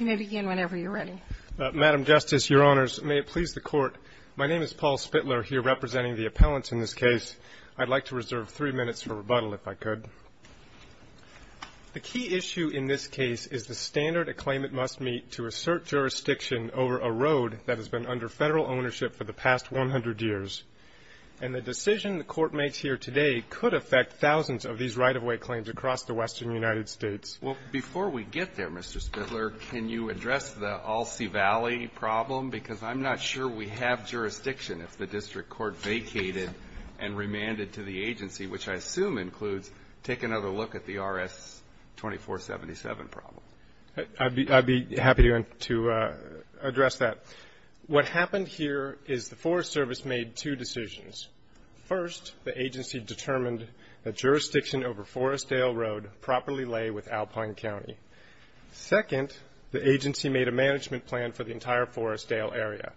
The key issue in this case is the standard a claimant must meet to assert jurisdiction over a road that has been under federal ownership for the past 100 years. And the decision the Court makes here today could affect thousands of these right-of-way claims across the western United States. Well, before we get there, Mr. Spindler, can you address the Alsea Valley problem? Because I'm not sure we have jurisdiction if the district court vacated and remanded to the agency, which I assume includes, take another look at the RS-2477 problem. I'd be happy to address that. What happened here is the Forest Service made two decisions. First, the agency determined that jurisdiction over Forestdale Road properly lay with Alpine County. Second, the agency made a management plan for the entire Forestdale area.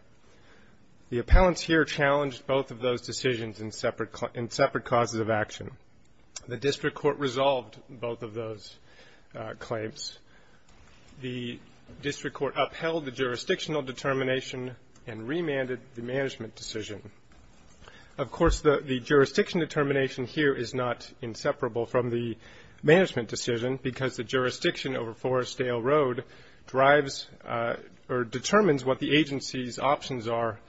The appellants here challenged both of those decisions in separate causes of action. The district court resolved both of those claims. The district court upheld the jurisdictional determination and remanded the management decision. Of course, the jurisdiction determination here is not inseparable from the management decision because the jurisdiction over Forestdale Road drives or determines what the agency's options are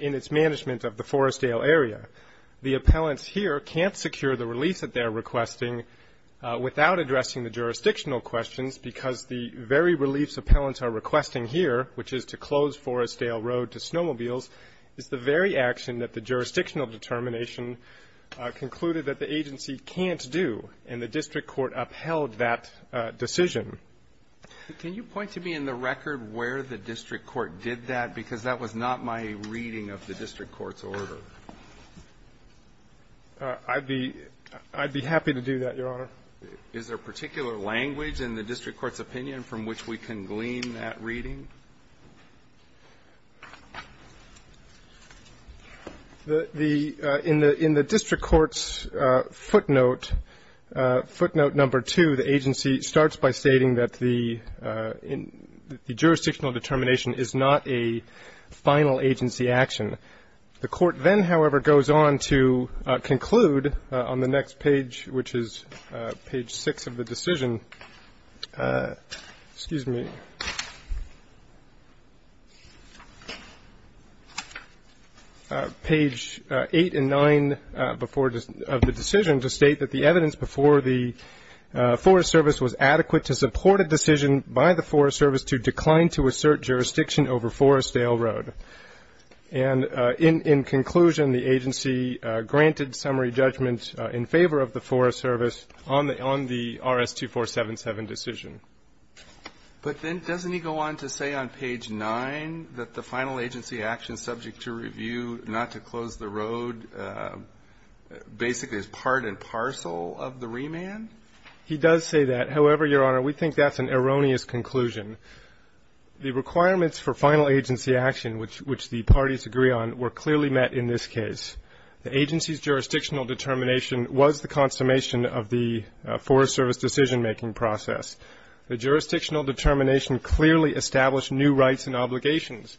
in its management of the Forestdale area. The appellants here can't secure the release that they're requesting without addressing the jurisdictional questions because the very reliefs appellants are requesting here, which is to close Forestdale Road to snowmobiles, is the very action that the jurisdictional determination concluded that the agency can't do. And the district court upheld that decision. Can you point to me in the record where the district court did that? Because that was not my reading of the district court's order. I'd be happy to do that, Your Honor. Is there particular language in the district court's opinion from which we can glean that reading? In the district court's footnote, footnote number two, the agency starts by stating that the jurisdictional determination is not a final agency action. The court then, however, goes on to conclude on the next page, which is page six of the decision, excuse me, page eight and nine of the decision to state that the evidence before the Forest Service was adequate to support a decision by the Forest Service to decline to assert jurisdiction over Forestdale Road. And in conclusion, the agency granted summary judgment in favor of the Forest Service on the RS-2477 decision. But then doesn't he go on to say on page nine that the final agency action subject to review, not to close the road, basically is part and parcel of the remand? He does say that. However, Your Honor, we think that's an erroneous conclusion. The requirements for final agency action, which the parties agree on, were clearly met in this case. The agency's jurisdictional determination was the consummation of the Forest Service decision-making process. The jurisdictional determination clearly established new rights and obligations.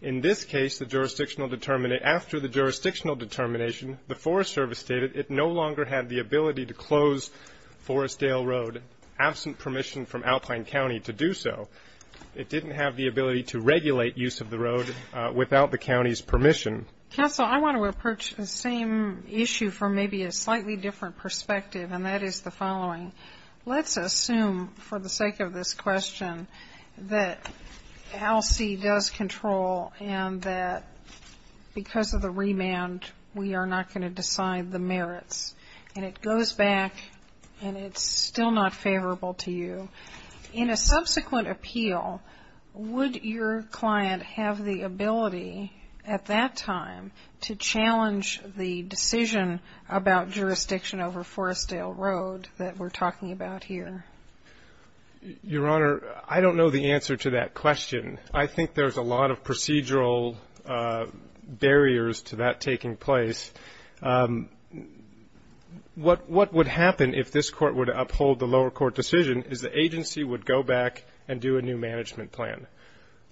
In this case, the jurisdictional determination, after the jurisdictional determination, the Forest Service stated it no longer had the ability to close Forestdale Road, absent permission from Alpine County to do so. It didn't have the ability to regulate use of the road without the county's permission. Counsel, I want to approach the same issue from maybe a slightly different perspective, and that is the following. Let's assume, for the sake of this question, that ALC does control and that because of the remand, we are not going to decide the merits. And it goes back, and it's still not favorable to you. In a subsequent appeal, would your client have the ability, at that time, to challenge the decision about jurisdiction over Forestdale Road that we're talking about here? Your Honor, I don't know the answer to that question. I think there's a lot of procedural barriers to that taking place. What would happen if this Court would uphold the lower court decision is the agency would go back and do a new management plan.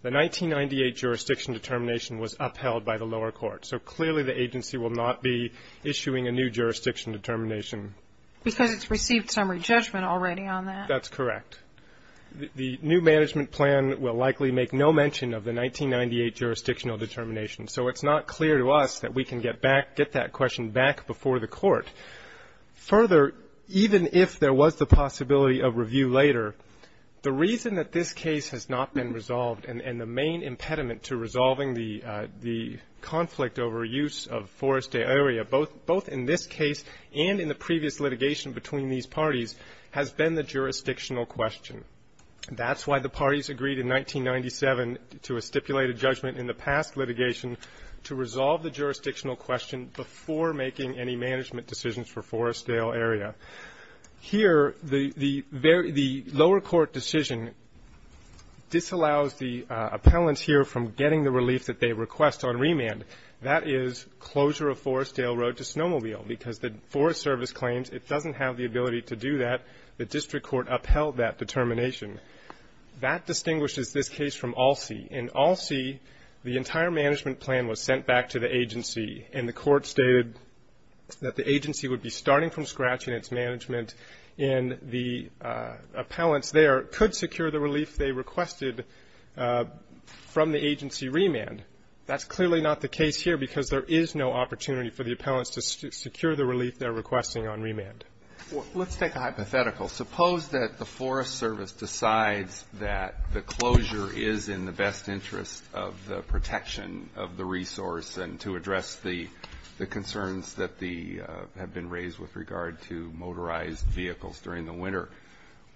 The 1998 jurisdiction determination was upheld by the lower court, so clearly the agency will not be issuing a new jurisdiction determination. Because it's received summary judgment already on that. That's correct. The new management plan will likely make no mention of the 1998 jurisdictional determination. So it's not clear to us that we can get back, get that question back before the court. Further, even if there was the possibility of review later, the reason that this case has not been resolved, and the main impediment to resolving the conflict over use of Forestdale area, both in this case and in the previous litigation between these parties, has been the jurisdictional question. That's why the parties agreed in 1997 to a stipulated judgment in the past litigation to resolve the jurisdictional question before making any management decisions for Forestdale area. Here, the lower court decision disallows the appellants here from getting the relief that they request on remand. That is closure of Forestdale Road to Snowmobile because the Forest Service claims it doesn't have the ability to do that. The district court upheld that determination. That distinguishes this case from Alsea. In Alsea, the entire management plan was sent back to the agency, and the court stated that the agency would be starting from scratch in its management, and the appellants there could secure the relief they requested from the agency remand. That's clearly not the case here because there is no opportunity for the appellants to secure the relief they're requesting on remand. Let's take a hypothetical. Suppose that the Forest Service decides that the closure is in the best interest of the protection of the resource and to address the concerns that have been raised with regard to motorized vehicles during the winter.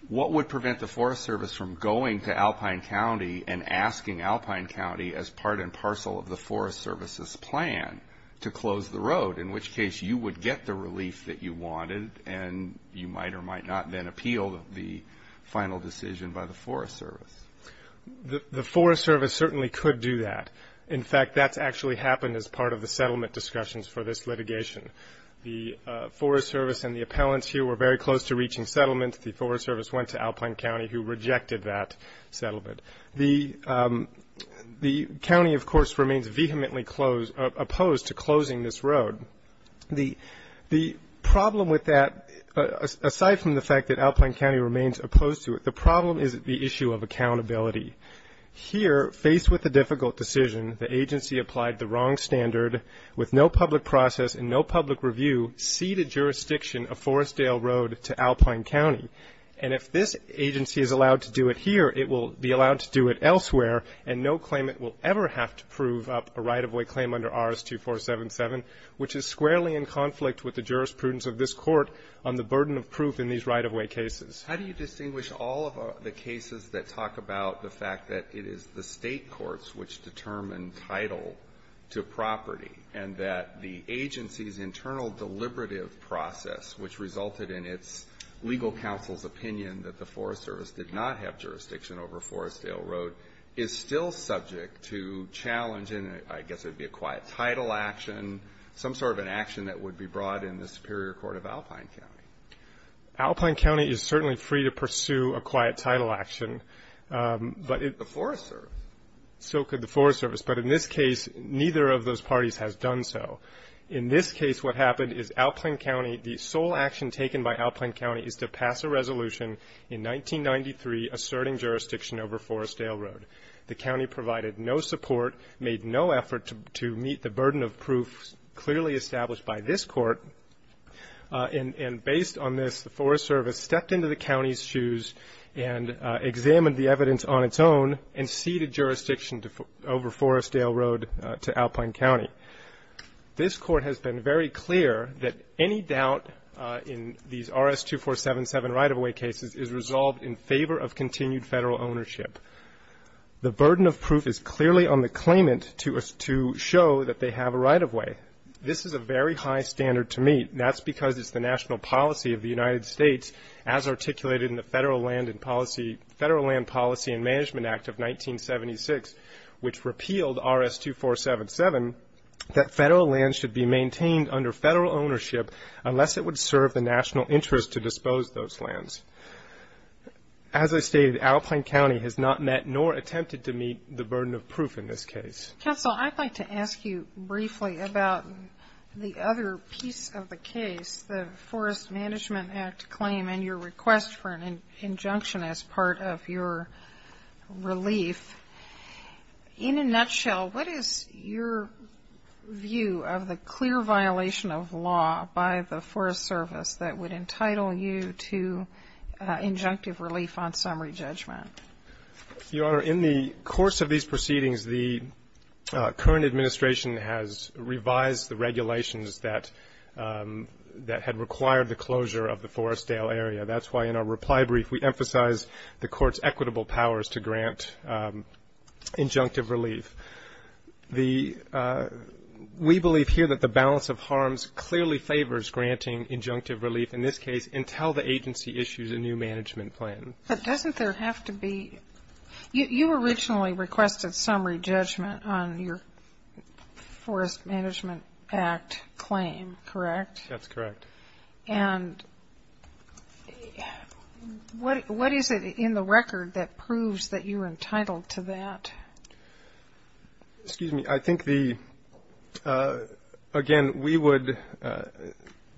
What would prevent the Forest Service from going to Alpine County and asking Alpine County as part and parcel of the Forest Service's plan to close the road? In which case, you would get the relief that you wanted, and you might or might not then appeal the final decision by the Forest Service. The Forest Service certainly could do that. In fact, that's actually happened as part of the settlement discussions for this litigation. The Forest Service and the appellants here were very close to reaching settlement. The Forest Service went to Alpine County, who rejected that settlement. The county, of course, remains vehemently opposed to closing this road. The problem with that, aside from the fact that Alpine County remains opposed to it, the problem is the issue of accountability. Here, faced with a difficult decision, the agency applied the wrong standard with no public process and no public review, ceded jurisdiction of Forestdale Road to Alpine County. And if this agency is allowed to do it here, it will be allowed to do it elsewhere. And no claimant will ever have to prove up a right of way claim under RS-2477, which is squarely in conflict with the jurisprudence of this Court on the burden of proof in these right-of-way cases. How do you distinguish all of the cases that talk about the fact that it is the State courts which determine title to property, and that the agency's internal deliberative process, which resulted in its legal counsel's opinion that the Forest Service did not have jurisdiction over Forestdale Road, is still subject to challenge in, I guess it is an action that would be brought in the Superior Court of Alpine County. Alpine County is certainly free to pursue a quiet title action. But the Forest Service. So could the Forest Service. But in this case, neither of those parties has done so. In this case, what happened is Alpine County, the sole action taken by Alpine County is to pass a resolution in 1993 asserting jurisdiction over Forestdale Road. The county provided no support, made no effort to meet the burden of proof, clearly established by this Court, and based on this, the Forest Service stepped into the county's shoes and examined the evidence on its own and ceded jurisdiction over Forestdale Road to Alpine County. This Court has been very clear that any doubt in these RS-2477 right-of-way cases is resolved in favor of continued Federal ownership. The burden of proof is clearly on the claimant to show that they have a right-of-way. This is a very high standard to meet. And that's because it's the national policy of the United States, as articulated in the Federal Land Policy and Management Act of 1976, which repealed RS-2477, that Federal land should be maintained under Federal ownership unless it would serve the national interest to dispose those lands. As I stated, Alpine County has not met nor attempted to meet the burden of proof in this case. Counsel, I'd like to ask you briefly about the other piece of the case, the Forest Management Act claim and your request for an injunction as part of your relief. In a nutshell, what is your view of the clear violation of law by the Forest Service that would entitle you to injunctive relief on summary judgment? Your Honor, in the course of these proceedings, the current administration has revised the regulations that had required the closure of the Forestdale area. That's why in our reply brief, we emphasized the Court's equitable powers to grant injunctive relief. The we believe here that the balance of harms clearly favors granting injunctive relief, in this case, until the agency issues a new management plan. But doesn't there have to be, you originally requested summary judgment on your Forest Management Act claim, correct? That's correct. And what is it in the record that proves that you're entitled to that? Excuse me. I think the, again, we would,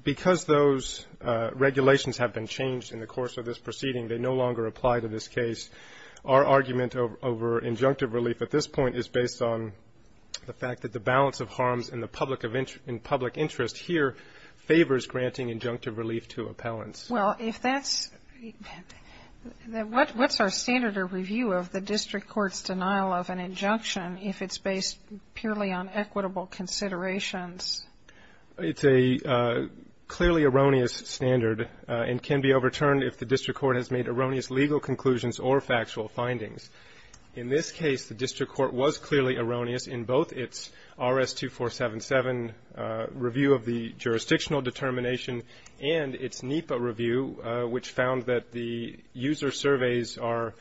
because those regulations have been changed in the course of this proceeding, they no longer apply to this case. Our argument over injunctive relief at this point is based on the fact that the balance of harms in the public interest here favors granting injunctive relief to appellants. Well, if that's, what's our standard of review of the district court's denial of an injunction if it's based purely on equitable considerations? It's a clearly erroneous standard and can be overturned if the district court has made erroneous legal conclusions or factual findings. In this case, the district court was clearly erroneous in both its RS-2477 review of the jurisdictional determination and its NEPA review, which found that the user surveys are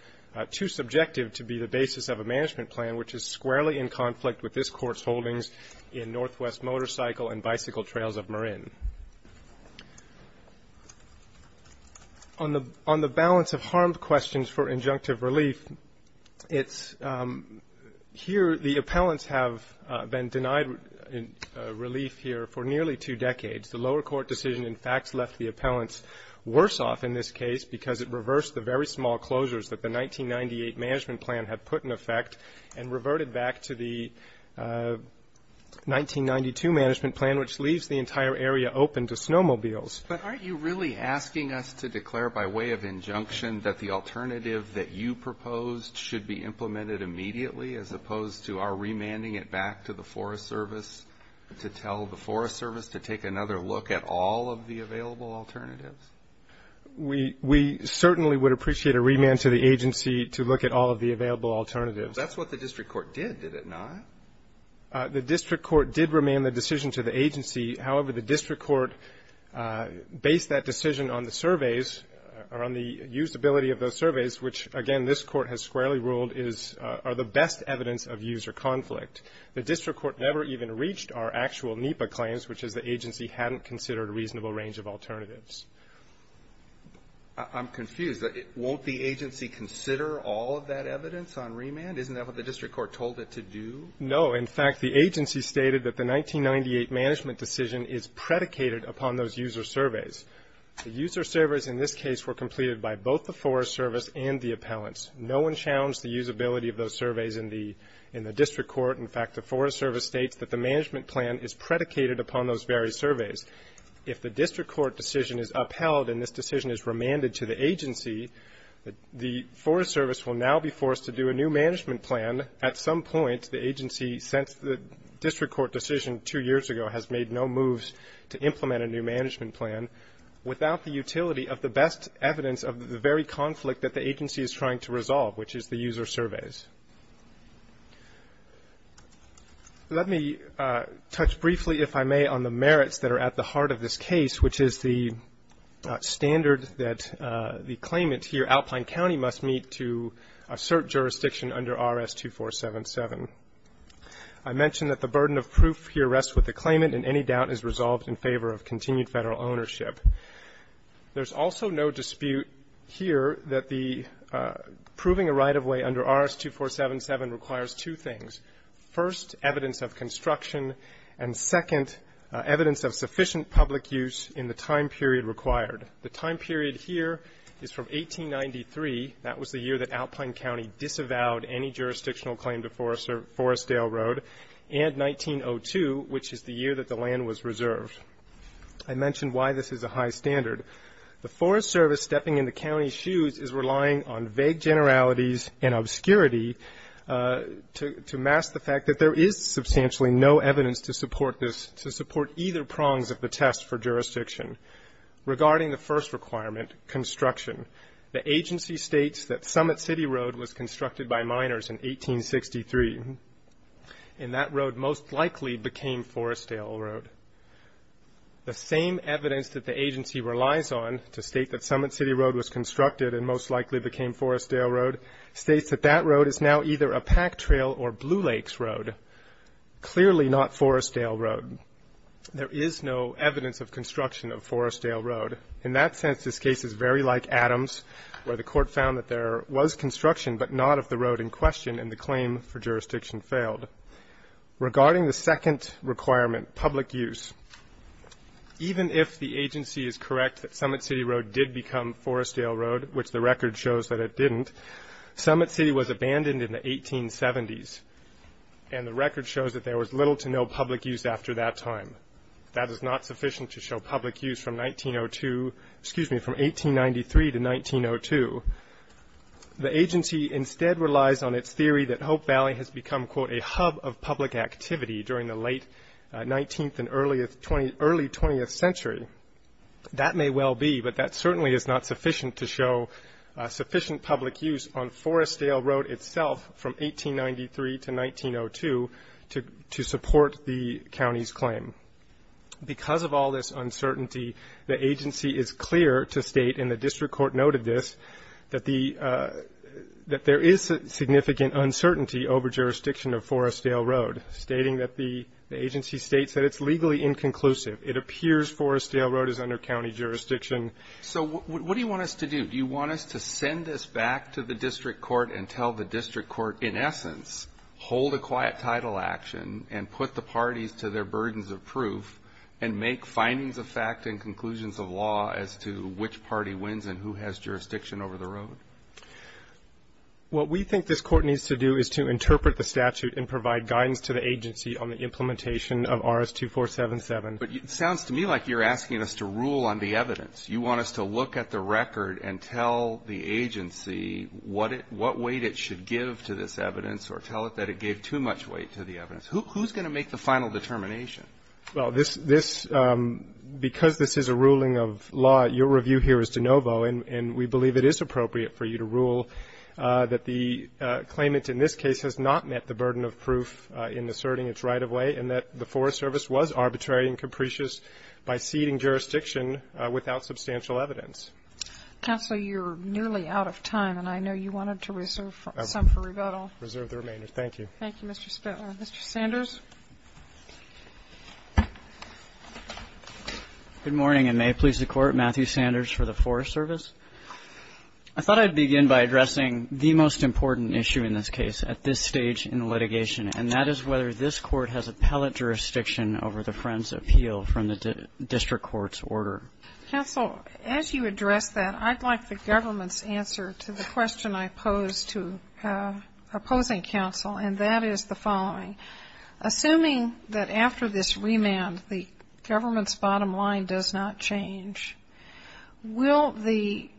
too subjective to be the basis of a management plan, which is squarely in conflict with this court's holdings in Northwest Motorcycle and Bicycle Trails of Marin. On the balance of harm questions for injunctive relief, it's, here, the appellants have been denied relief here for nearly two decades. The lower court decision, in fact, left the appellants worse off in this case because it reversed the very small closures that the 1998 management plan had put in effect and reverted back to the 1992 management plan, which leaves the entire area open to snowmobiles. But aren't you really asking us to declare by way of injunction that the alternative that you proposed should be implemented immediately as opposed to our remanding it back to the Forest Service to tell the Forest Service to take another look at all of the available alternatives? We certainly would appreciate a remand to the agency to look at all of the available alternatives. That's what the district court did, did it not? The district court did remain the decision to the agency. However, the district court based that decision on the surveys or on the usability of those surveys, which, again, this court has squarely ruled are the best evidence of user conflict. The district court never even reached our actual NEPA claims, which is the agency hadn't considered a reasonable range of alternatives. I'm confused. Won't the agency consider all of that evidence on remand? Isn't that what the district court told it to do? No. In fact, the agency stated that the 1998 management decision is predicated upon those user surveys. The user surveys in this case were completed by both the Forest Service and the appellants. No one challenged the usability of those surveys in the district court. In fact, the Forest Service states that the management plan is predicated upon those various surveys. If the district court decision is upheld and this decision is remanded to the agency, the Forest Service will now be forced to do a new management plan at some point the agency since the district court decision two years ago has made no moves to implement a new management plan without the utility of the best evidence of the very conflict that the agency is trying to resolve, which is the user surveys. Let me touch briefly, if I may, on the merits that are at the heart of this case, which is the standard that the claimant here, Alpine County, must meet to assert jurisdiction under RS-2477. I mentioned that the burden of proof here rests with the claimant and any doubt is resolved in favor of continued federal ownership. There's also no dispute here that the proving a right-of-way under RS-2477 requires two things. First, evidence of construction, and second, evidence of sufficient public use in the time period required. The time period here is from 1893, that was the year that Alpine County disavowed any jurisdictional claim to Forestdale Road, and 1902, which is the year that the land was reserved. I mentioned why this is a high standard. The Forest Service stepping in the county's shoes is relying on vague generalities and obscurity to mask the fact that there is substantially no evidence to support either prongs of the test for jurisdiction. Regarding the first requirement, construction, the agency states that Summit City Road was constructed by miners in 1863, and that road most likely became Forestdale Road. The same evidence that the agency relies on to state that Summit City Road was constructed and most likely became Forestdale Road states that that road is now either a pack trail or Blue Lakes Road, clearly not Forestdale Road. There is no evidence of construction of Forestdale Road. In that sense, this case is very like Adams, where the court found that there was construction, but not of the road in question, and the claim for jurisdiction failed. Regarding the second requirement, public use, even if the agency is correct that Summit City Road did become Forestdale Road, which the record shows that it didn't, Summit City was abandoned in the 1870s, and the record shows that there was little to no public use after that time. That is not sufficient to show public use from 1893 to 1902. The agency instead relies on its theory that Hope Valley has become, quote, a hub of public activity during the late 19th and early 20th century. That may well be, but that certainly is not sufficient to show sufficient public use on Forestdale Road itself from 1893 to 1902 to support the county's claim. Because of all this uncertainty, the agency is clear to state, and the district court noted this, that there is significant uncertainty over jurisdiction of Forestdale Road, stating that the agency states that it's legally inconclusive. It appears Forestdale Road is under county jurisdiction. So what do you want us to do? Do you want us to send this back to the district court and tell the district court, in essence, hold a quiet title action and put the parties to their burdens of proof and make findings of fact and conclusions of law as to which party wins and who has jurisdiction over the road? What we think this court needs to do is to interpret the statute and provide guidance to the agency on the implementation of RS-2477. But it sounds to me like you're asking us to rule on the evidence. You want us to look at the record and tell the agency what weight it should give to this evidence or tell it that it gave too much weight to the evidence. Who's going to make the final determination? Well, because this is a ruling of law, your review here is de novo. And we believe it is appropriate for you to rule that the claimant in this case has not met the burden of proof in asserting its right of way and that the Forest Service was arbitrary and capricious by ceding jurisdiction without substantial evidence. Counselor, you're nearly out of time, and I know you wanted to reserve some for rebuttal. Reserve the remainder. Thank you. Thank you, Mr. Spitler. Mr. Sanders. Good morning, and may it please the Court, Matthew Sanders for the Forest Service. I thought I'd begin by addressing the most important issue in this case at this stage in the litigation, and that is whether this Court has appellate jurisdiction over the Friends' Appeal from the district court's order. Counsel, as you address that, I'd like the government's answer to the question I pose to opposing counsel, and that is the following. Assuming that after this remand, the government's bottom line does not change, will the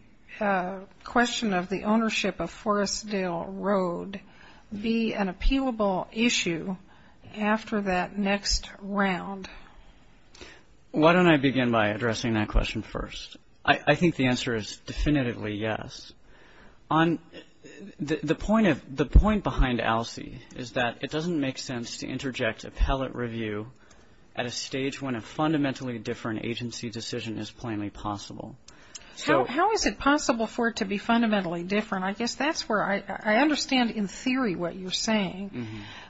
question of the ownership of Forestdale Road be an appealable issue after that next round? Why don't I begin by addressing that question first? I think the answer is definitively yes. The point behind ALSEI is that it doesn't make sense to interject appellate review at a stage when a fundamentally different agency decision is plainly possible. How is it possible for it to be fundamentally different? I guess that's where I understand in theory what you're saying,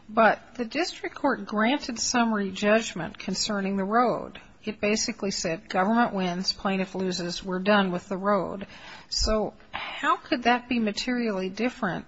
but the district court granted summary judgment concerning the road. It basically said government wins, plaintiff loses, we're done with the road. So how could that be materially different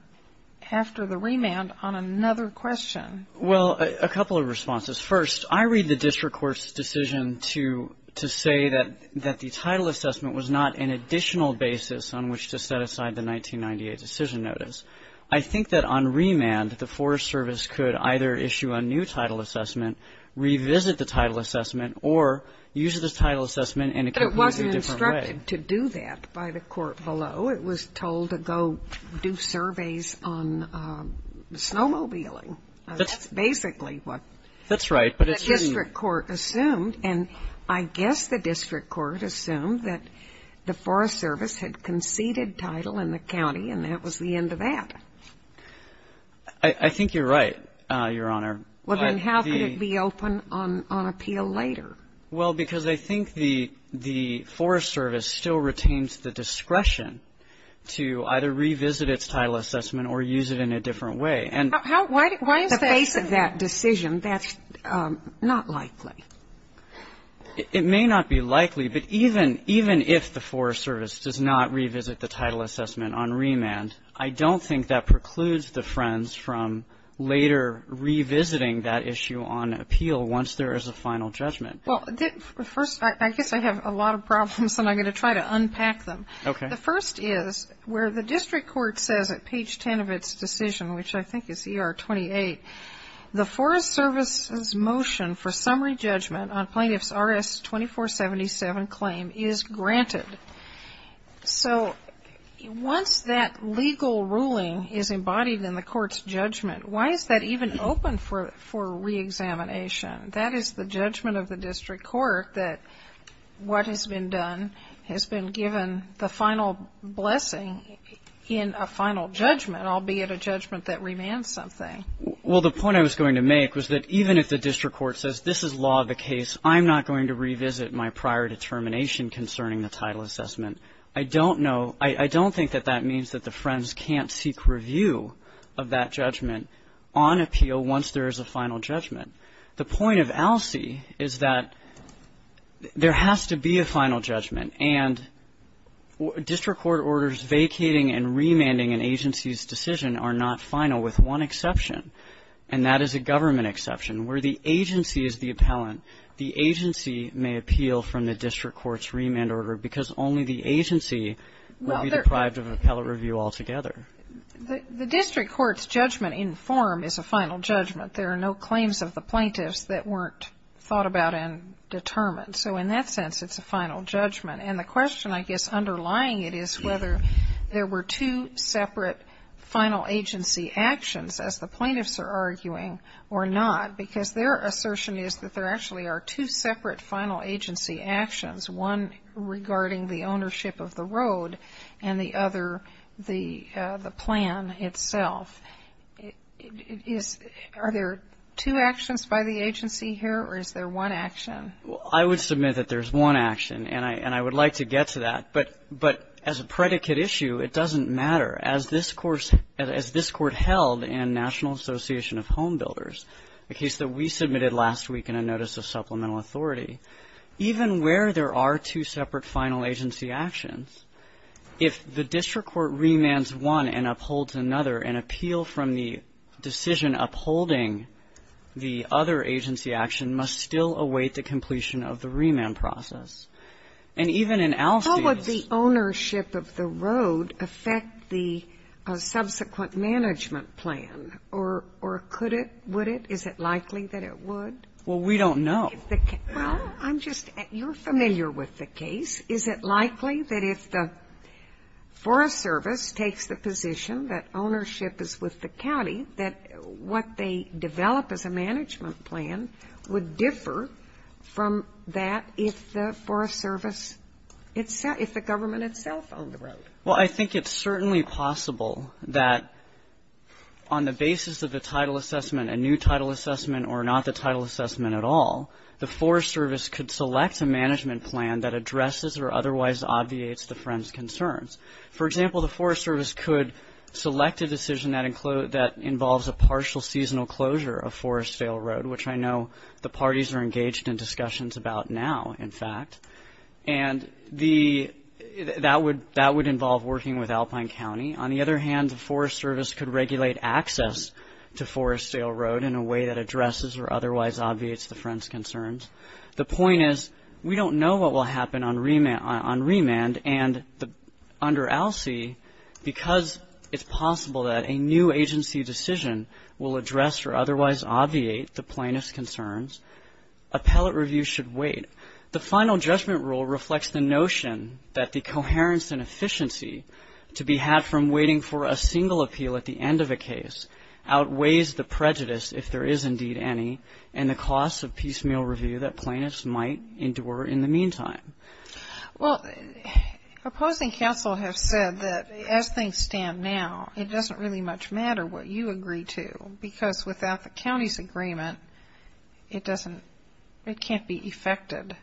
after the remand on another question? Well, a couple of responses. First, I read the district court's decision to say that the title assessment was not an additional basis on which to set aside the 1998 decision notice. I think that on remand, the Forest Service could either issue a new title assessment, revisit the title assessment, or use the title assessment in a completely different way. But it wasn't instructed to do that by the court below. It was told to go do surveys on snowmobiling. That's basically what. That's right. But the district court assumed, and I guess the district court assumed that the Forest Service had conceded title in the county, and that was the end of that. I think you're right, Your Honor. Well, then how could it be open on appeal later? Well, because I think the Forest Service still retains the discretion to either revisit its title assessment or use it in a different way. Why is that? In the face of that decision, that's not likely. It may not be likely, but even if the Forest Service does not revisit the title assessment on remand, I don't think that precludes the Friends from later revisiting that issue on appeal once there is a final judgment. Well, first, I guess I have a lot of problems, and I'm going to try to unpack them. Okay. The first is where the district court says at page 10 of its decision, which I think is ER 28, the Forest Service's motion for summary judgment on plaintiff's RS 2477 claim is granted. So once that legal ruling is embodied in the court's judgment, why is that even open for reexamination? That is the judgment of the district court that what has been done has been given the final blessing in a final judgment, albeit a judgment that remands something. Well, the point I was going to make was that even if the district court says this is law of the case, I'm not going to revisit my prior determination concerning the title assessment. I don't know. I don't think that that means that the Friends can't seek review of that judgment on appeal once there is a final judgment. The point of ALSEI is that there has to be a final judgment, and district court orders vacating and remanding an agency's decision are not final, with one exception, and that is a government exception, where the agency is the appellant. The agency may appeal from the district court's remand order because only the agency will be deprived of an appellate review altogether. The district court's judgment in form is a final judgment. There are no claims of the plaintiffs that weren't thought about and determined. So in that sense, it's a final judgment. And the question, I guess, underlying it is whether there were two separate final agency actions, as the plaintiffs are arguing, or not. Because their assertion is that there actually are two separate final agency actions, one regarding the ownership of the road, and the other, the plan itself. Are there two actions by the agency here, or is there one action? Well, I would submit that there's one action, and I would like to get to that. But as a predicate issue, it doesn't matter. As this court held in National Association of Home Builders, a case that we submitted last week in a notice of supplemental authority, even where there are two separate final agency actions, if the district court remands one and upholds another, an appeal from the decision upholding the other agency action must still await the completion of the remand process. And even in Alcey's How would the ownership of the road affect the subsequent management plan, or could it, would it? Is it likely that it would? Well, we don't know. Well, I'm just, you're familiar with the case. Is it likely that if the Forest Service takes the position that ownership is with the county, that what they develop as a management plan would differ from that if the Forest Service, if the government itself owned the road? Well, I think it's certainly possible that on the basis of the title assessment, a new title assessment or not the title assessment at all, the Forest Service could select a management plan that addresses or otherwise obviates the Friends' concerns. For example, the Forest Service could select a decision that includes, that involves a partial seasonal closure of Forestdale Road, which I know the parties are engaged in discussions about now, in fact. And the, that would, that would involve working with Alpine County. On the other hand, the Forest Service could regulate access to Forestdale Road in a way that addresses or otherwise obviates the Friends' concerns. The point is, we don't know what will happen on remand and under ALSEI, because it's possible that a new agency decision will address or otherwise obviate the plaintiff's concerns. Appellate review should wait. The final judgment rule reflects the notion that the coherence and efficiency to be had from waiting for a single appeal at the end of a case outweighs the prejudice, if there is indeed any, and the costs of piecemeal review that plaintiffs might endure in the meantime. Well, opposing counsel have said that as things stand now, it doesn't really much matter what you agree to, because without the county's agreement, it doesn't, it can't be effected.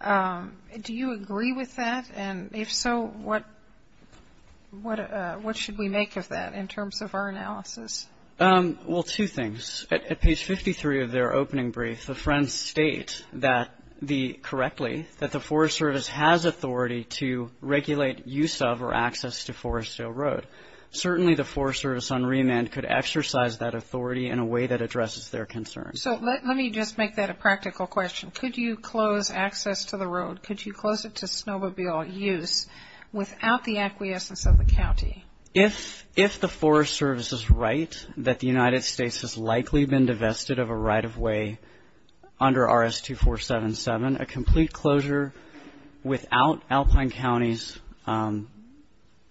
Do you agree with that? And if so, what, what should we make of that in terms of our analysis? Well, two things. At page 53 of their opening brief, the Friends state that the, correctly, that the Forest Service has authority to regulate use of or access to Forestdale Road. Certainly, the Forest Service on remand could exercise that authority in a way that addresses their concerns. So let me just make that a practical question. Could you close access to the road, could you close it to snowmobile use without the acquiescence of the county? If, if the Forest Service is right, that the United States has likely been divested of a right of way under RS-2477, a complete closure without Alpine County's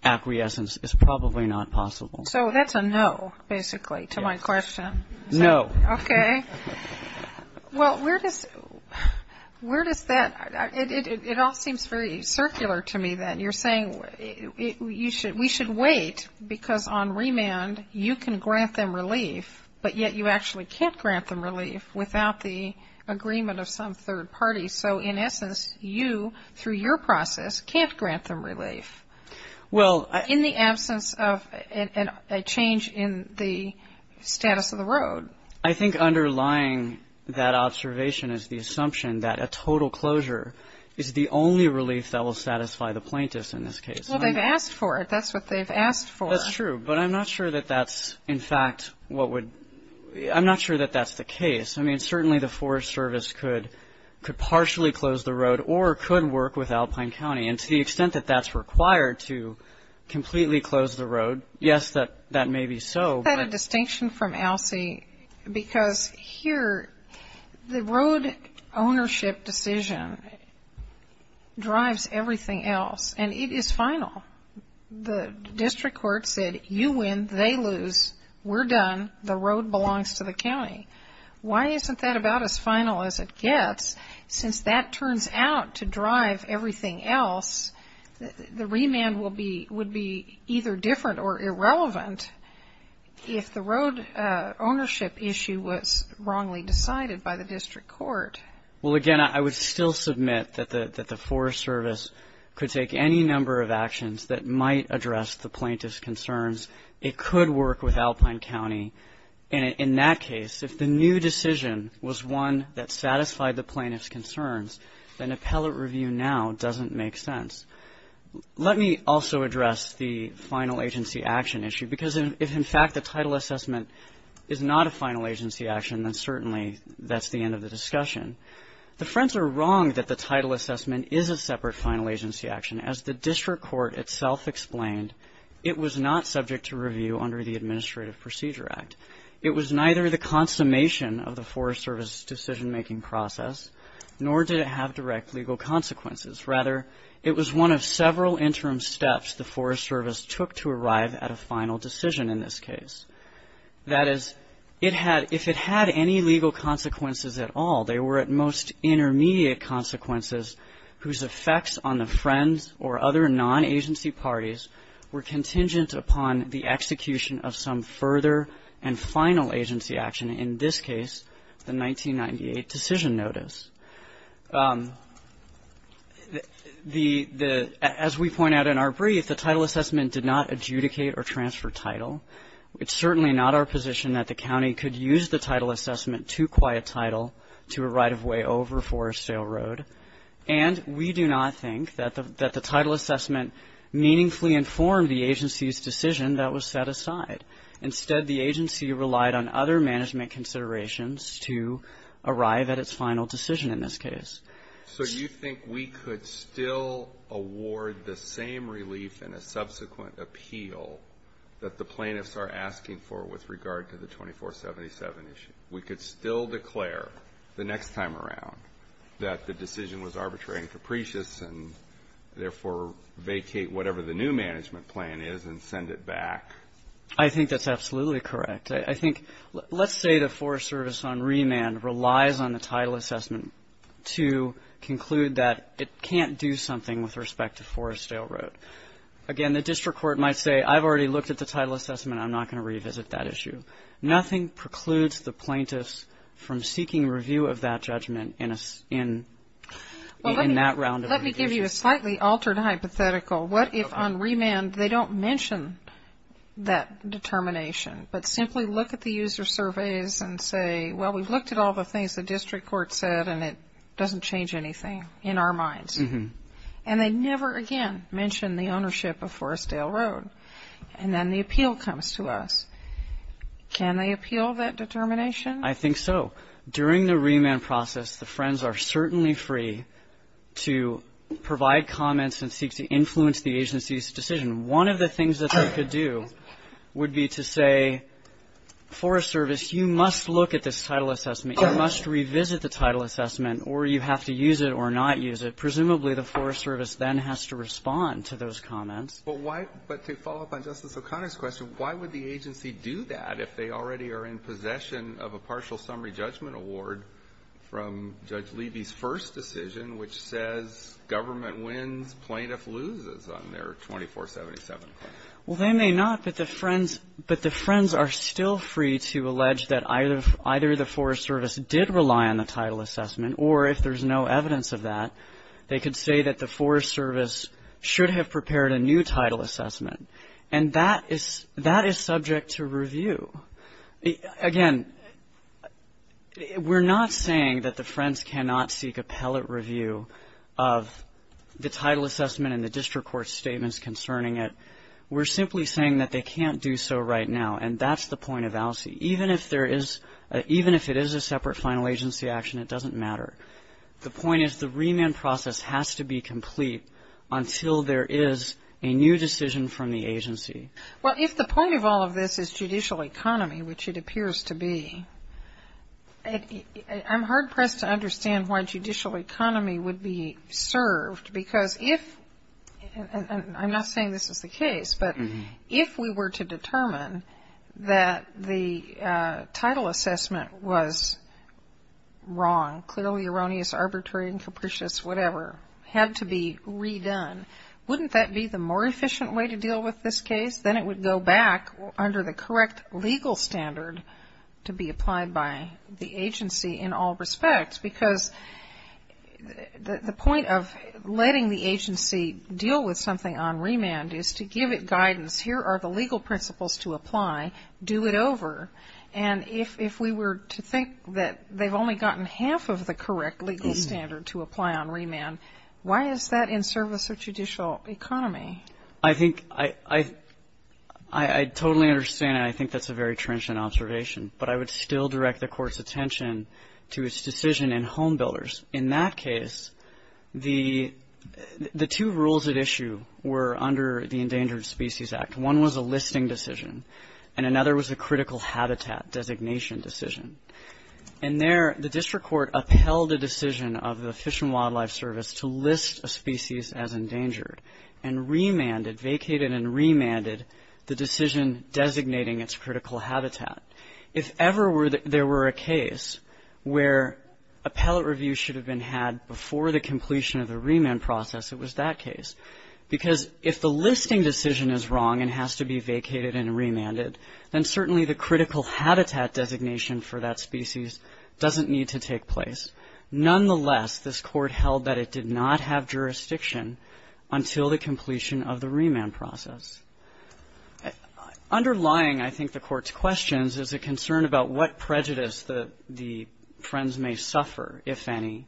acquiescence is probably not possible. So that's a no, basically, to my question. No. Okay. Well, where does, where does that, it all seems very circular to me that you're saying you should, we should wait because on remand, you can grant them relief, but yet you actually can't grant them relief without the agreement of some third party. So in essence, you, through your process, can't grant them relief. Well, I. In the absence of a change in the status of the road. I think underlying that observation is the assumption that a total closure is the only relief that will satisfy the plaintiffs in this case. Well, they've asked for it. That's what they've asked for. That's true, but I'm not sure that that's, in fact, what would, I'm not sure that that's the case. I mean, certainly the Forest Service could, could partially close the road or could work with Alpine County. And to the extent that that's required to completely close the road, yes, that, that may be so. Is that a distinction from ALSEI? Because here, the road ownership decision drives everything else. And it is final. The district court said, you win, they lose, we're done, the road belongs to the county. Why isn't that about as final as it gets? Since that turns out to drive everything else, the remand will be, would be either different or irrelevant if the road ownership issue was wrongly decided by the district court. Well, again, I would still submit that the, that the Forest Service could take any number of actions that might address the plaintiff's concerns. It could work with Alpine County. And in that case, if the new decision was one that satisfied the plaintiff's concerns, then appellate review now doesn't make sense. Let me also address the final agency action issue. Because if, in fact, the title assessment is not a final agency action, then certainly that's the end of the discussion. The French are wrong that the title assessment is a separate final agency action. As the district court itself explained, it was not subject to review under the Administrative Procedure Act. It was neither the consummation of the Forest Service decision making process, nor did it have direct legal consequences. Rather, it was one of several interim steps the Forest Service took to arrive at a final decision in this case. That is, if it had any legal consequences at all, they were at most intermediate consequences whose effects on the French or other non-agency parties were contingent upon the execution of some further and final agency action, in this case, the 1998 decision notice. As we point out in our brief, the title assessment did not adjudicate or transfer title. It's certainly not our position that the county could use the title assessment to quiet title to a right of way over Forestdale Road. And we do not think that the title assessment meaningfully informed the agency's decision that was set aside. Instead, the agency relied on other management considerations to arrive at its final decision in this case. So you think we could still award the same relief in a subsequent appeal that the plaintiffs are asking for with regard to the 2477 issue? We could still declare the next time around that the decision was arbitrary and capricious and therefore vacate whatever the new management plan is and send it back? I think that's absolutely correct. I think, let's say the Forest Service on remand relies on the title assessment to conclude that it can't do something with respect to Forestdale Road. Again, the district court might say, I've already looked at the title assessment, I'm not going to revisit that issue. Nothing precludes the plaintiffs from seeking review of that judgment in that round of revisions. Let me give you a slightly altered hypothetical. What if on remand they don't mention that determination, but simply look at the user surveys and say, well, we've looked at all the things the district court said and it doesn't change anything in our minds. And they never again mention the ownership of Forestdale Road. And then the appeal comes to us. Can they appeal that determination? I think so. During the remand process, the friends are certainly free to provide comments and seek to influence the agency's decision. One of the things that they could do would be to say, Forest Service, you must look at this title assessment. You must revisit the title assessment or you have to use it or not use it. Presumably the Forest Service then has to respond to those comments. But why, but to follow up on Justice O'Connor's question, why would the agency do that if they already are in possession of a partial summary judgment award from Judge Levy's first decision, which says government wins, plaintiff loses on their 24-77 claim? Well, they may not, but the friends are still free to allege that either the Forest Service did rely on the title assessment, or if there's no evidence of that, they could say that the Forest Service should have prepared a new title assessment. And that is subject to review. Again, we're not saying that the friends cannot seek appellate review of the title assessment and the district court's statements concerning it. We're simply saying that they can't do so right now. And that's the point of ALSEI. Even if there is, even if it is a separate final agency action, it doesn't matter. The point is the remand process has to be complete until there is a new decision from the agency. Well, if the point of all of this is judicial economy, which it appears to be, I'm hard-pressed to understand why judicial economy would be served. Because if, and I'm not saying this is the case, but if we were to determine that the title assessment was wrong, clearly erroneous, arbitrary, and capricious, whatever, had to be redone, wouldn't that be the more efficient way to deal with this case? Then it would go back under the correct legal standard to be applied by the agency in all respects. Because the point of letting the agency deal with something on remand is to give it guidance. Here are the legal principles to apply. Do it over. And if we were to think that they've only gotten half of the correct legal standard to apply on remand, why is that in service of judicial economy? I think, I totally understand, and I think that's a very trenchant observation. But I would still direct the Court's attention to its decision in home builders. In that case, the two rules at issue were under the Endangered Species Act. One was a listing decision, and another was a critical habitat designation decision. And there, the District Court upheld a decision of the Fish and Wildlife Service to list a species as endangered, and remanded, vacated and remanded, the decision designating its critical habitat. If ever there were a case where a pellet review should have been had before the completion of the remand process, it was that case. Because if the listing decision is wrong and has to be vacated and remanded, then certainly the critical habitat designation for that species doesn't need to take place. Nonetheless, this Court held that it did not have jurisdiction until the completion of the remand process. Underlying, I think, the Court's questions is a concern about what prejudice the friends may suffer, if any,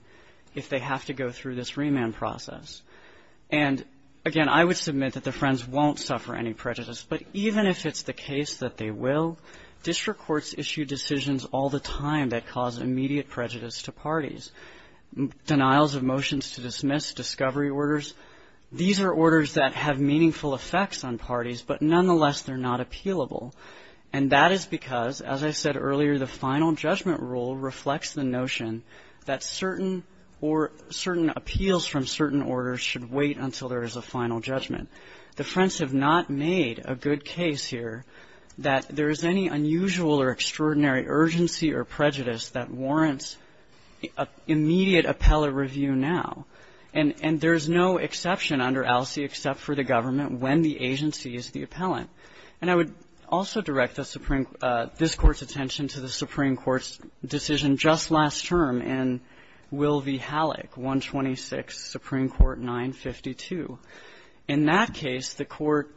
if they have to go through this remand process. And again, I would submit that the friends won't suffer any prejudice. But even if it's the case that they will, District Courts issue decisions all the time that cause immediate prejudice to parties. Denials of motions to dismiss, discovery orders. These are orders that have meaningful effects on parties, but nonetheless, they're not appealable. And that is because, as I said earlier, the final judgment rule reflects the notion that certain appeals from certain orders should wait until there is a final judgment. The friends have not made a good case here that there is any unusual or extraordinary urgency or prejudice that warrants immediate appellate review now. And there's no exception under ALSEA except for the government when the agency is the appellant. And I would also direct this Court's attention to the Supreme Court's decision just last term in Will v. Halleck, 126, Supreme Court 952. In that case, the Court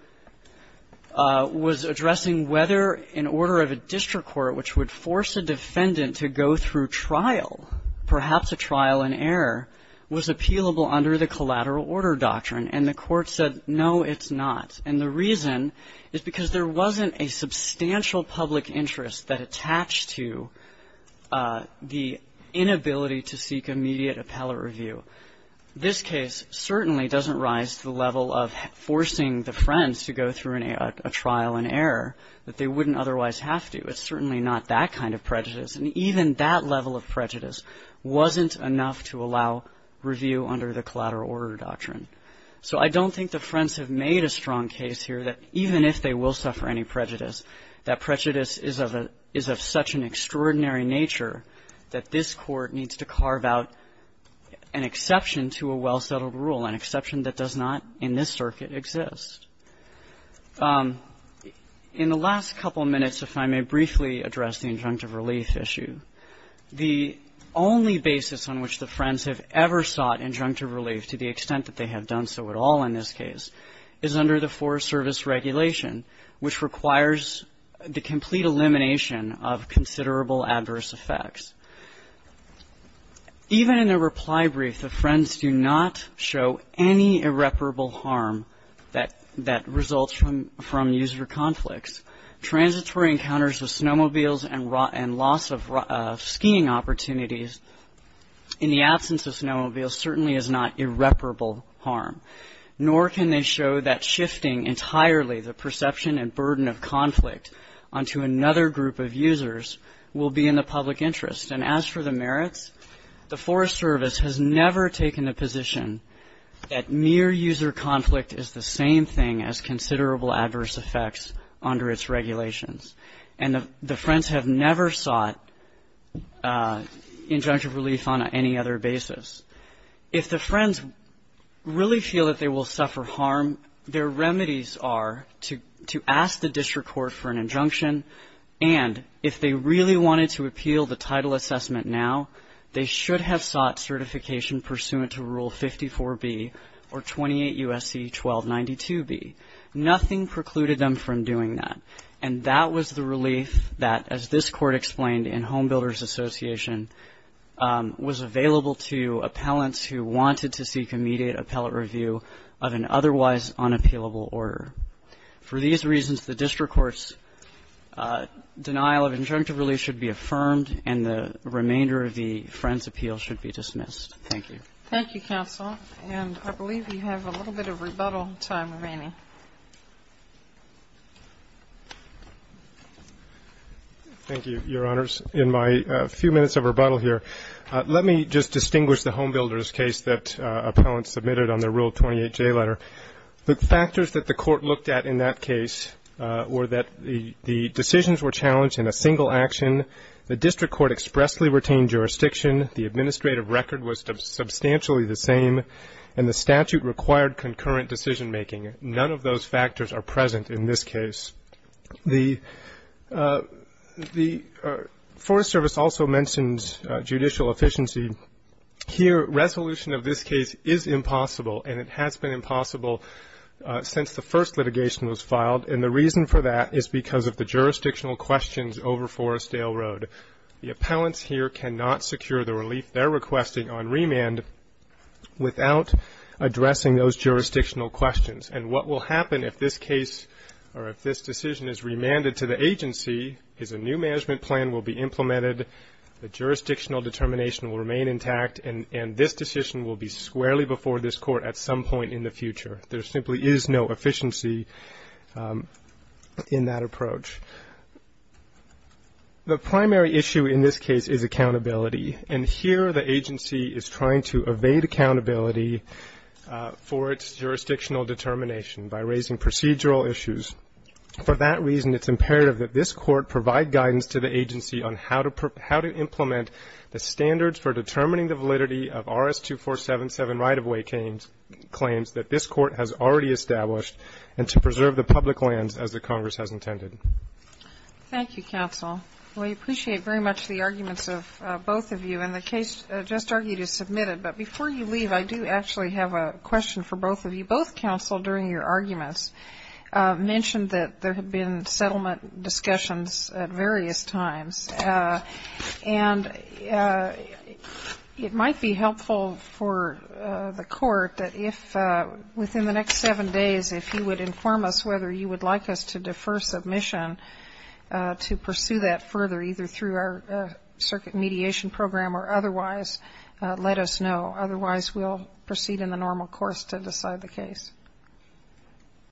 was addressing whether an order of a District Court, which would force a defendant to go through trial, perhaps a trial in error, was appealable under the collateral order doctrine. And the Court said, no, it's not. And the reason is because there wasn't a substantial public interest that attached to the inability to seek immediate appellate review. This case certainly doesn't rise to the level of forcing the friends to go through a trial in error that they wouldn't otherwise have to. It's certainly not that kind of prejudice. And even that level of prejudice wasn't enough to allow review under the collateral order doctrine. So I don't think the friends have made a strong case here that even if they will suffer any prejudice, that prejudice is of such an extraordinary nature that this Court needs to carve out an exception to a well-settled rule, an exception that does not in this circuit exist. In the last couple minutes, if I may briefly address the injunctive relief issue, the only basis on which the friends have ever sought injunctive relief, to the extent that they have done so at all in this case, is under the Forest Service regulation, which requires the complete elimination of considerable adverse effects. Even in the reply brief, the friends do not show any irreparable harm that results from user conflicts. Transitory encounters with snowmobiles and loss of skiing opportunities in the absence of snowmobiles certainly is not irreparable harm, nor can they show that shifting entirely the perception and burden of conflict onto another group of users will be in the public interest. And as for the merits, the Forest Service has never taken the position that mere user conflict is the same thing as considerable adverse effects under its regulations. And the friends have never sought injunctive relief on any other basis. If the friends really feel that they will suffer harm, their remedies are to ask the title assessment now. They should have sought certification pursuant to Rule 54B or 28 U.S.C. 1292B. Nothing precluded them from doing that. And that was the relief that, as this Court explained in Homebuilders Association, was available to appellants who wanted to seek immediate appellate review of an otherwise unappealable order. For these reasons, the district court's denial of injunctive relief should be affirmed, and the remainder of the friends' appeal should be dismissed. Thank you. Thank you, counsel. And I believe we have a little bit of rebuttal time remaining. Thank you, Your Honors. In my few minutes of rebuttal here, let me just distinguish the Homebuilders case that appellants submitted on their Rule 28J letter. The factors that the Court looked at in that case were that the decisions were challenged in a single action, the district court expressly retained jurisdiction, the administrative record was substantially the same, and the statute required concurrent decision-making. None of those factors are present in this case. The Forest Service also mentions judicial efficiency. Here, resolution of this case is impossible, and it has been impossible since the first litigation was filed, and the reason for that is because of the jurisdictional questions over Forestdale Road. The appellants here cannot secure the relief they're requesting on remand without addressing those jurisdictional questions. And what will happen if this case or if this decision is remanded to the agency is a new jurisdictional determination will remain intact, and this decision will be squarely before this Court at some point in the future. There simply is no efficiency in that approach. The primary issue in this case is accountability, and here the agency is trying to evade accountability for its jurisdictional determination by raising procedural issues. For that reason, it's imperative that this Court provide guidance to the agency on how to implement the standards for determining the validity of RS-2477 right-of-way claims that this Court has already established and to preserve the public lands as the Congress has intended. Thank you, counsel. We appreciate very much the arguments of both of you, and the case just argued is submitted. But before you leave, I do actually have a question for both of you. Both counsel, during your arguments, mentioned that there had been settlement discussions at various times. And it might be helpful for the Court that if within the next seven days, if you would inform us whether you would like us to defer submission to pursue that further, either through our circuit mediation program or otherwise, let us know. Otherwise, we'll proceed in the normal course to decide the case.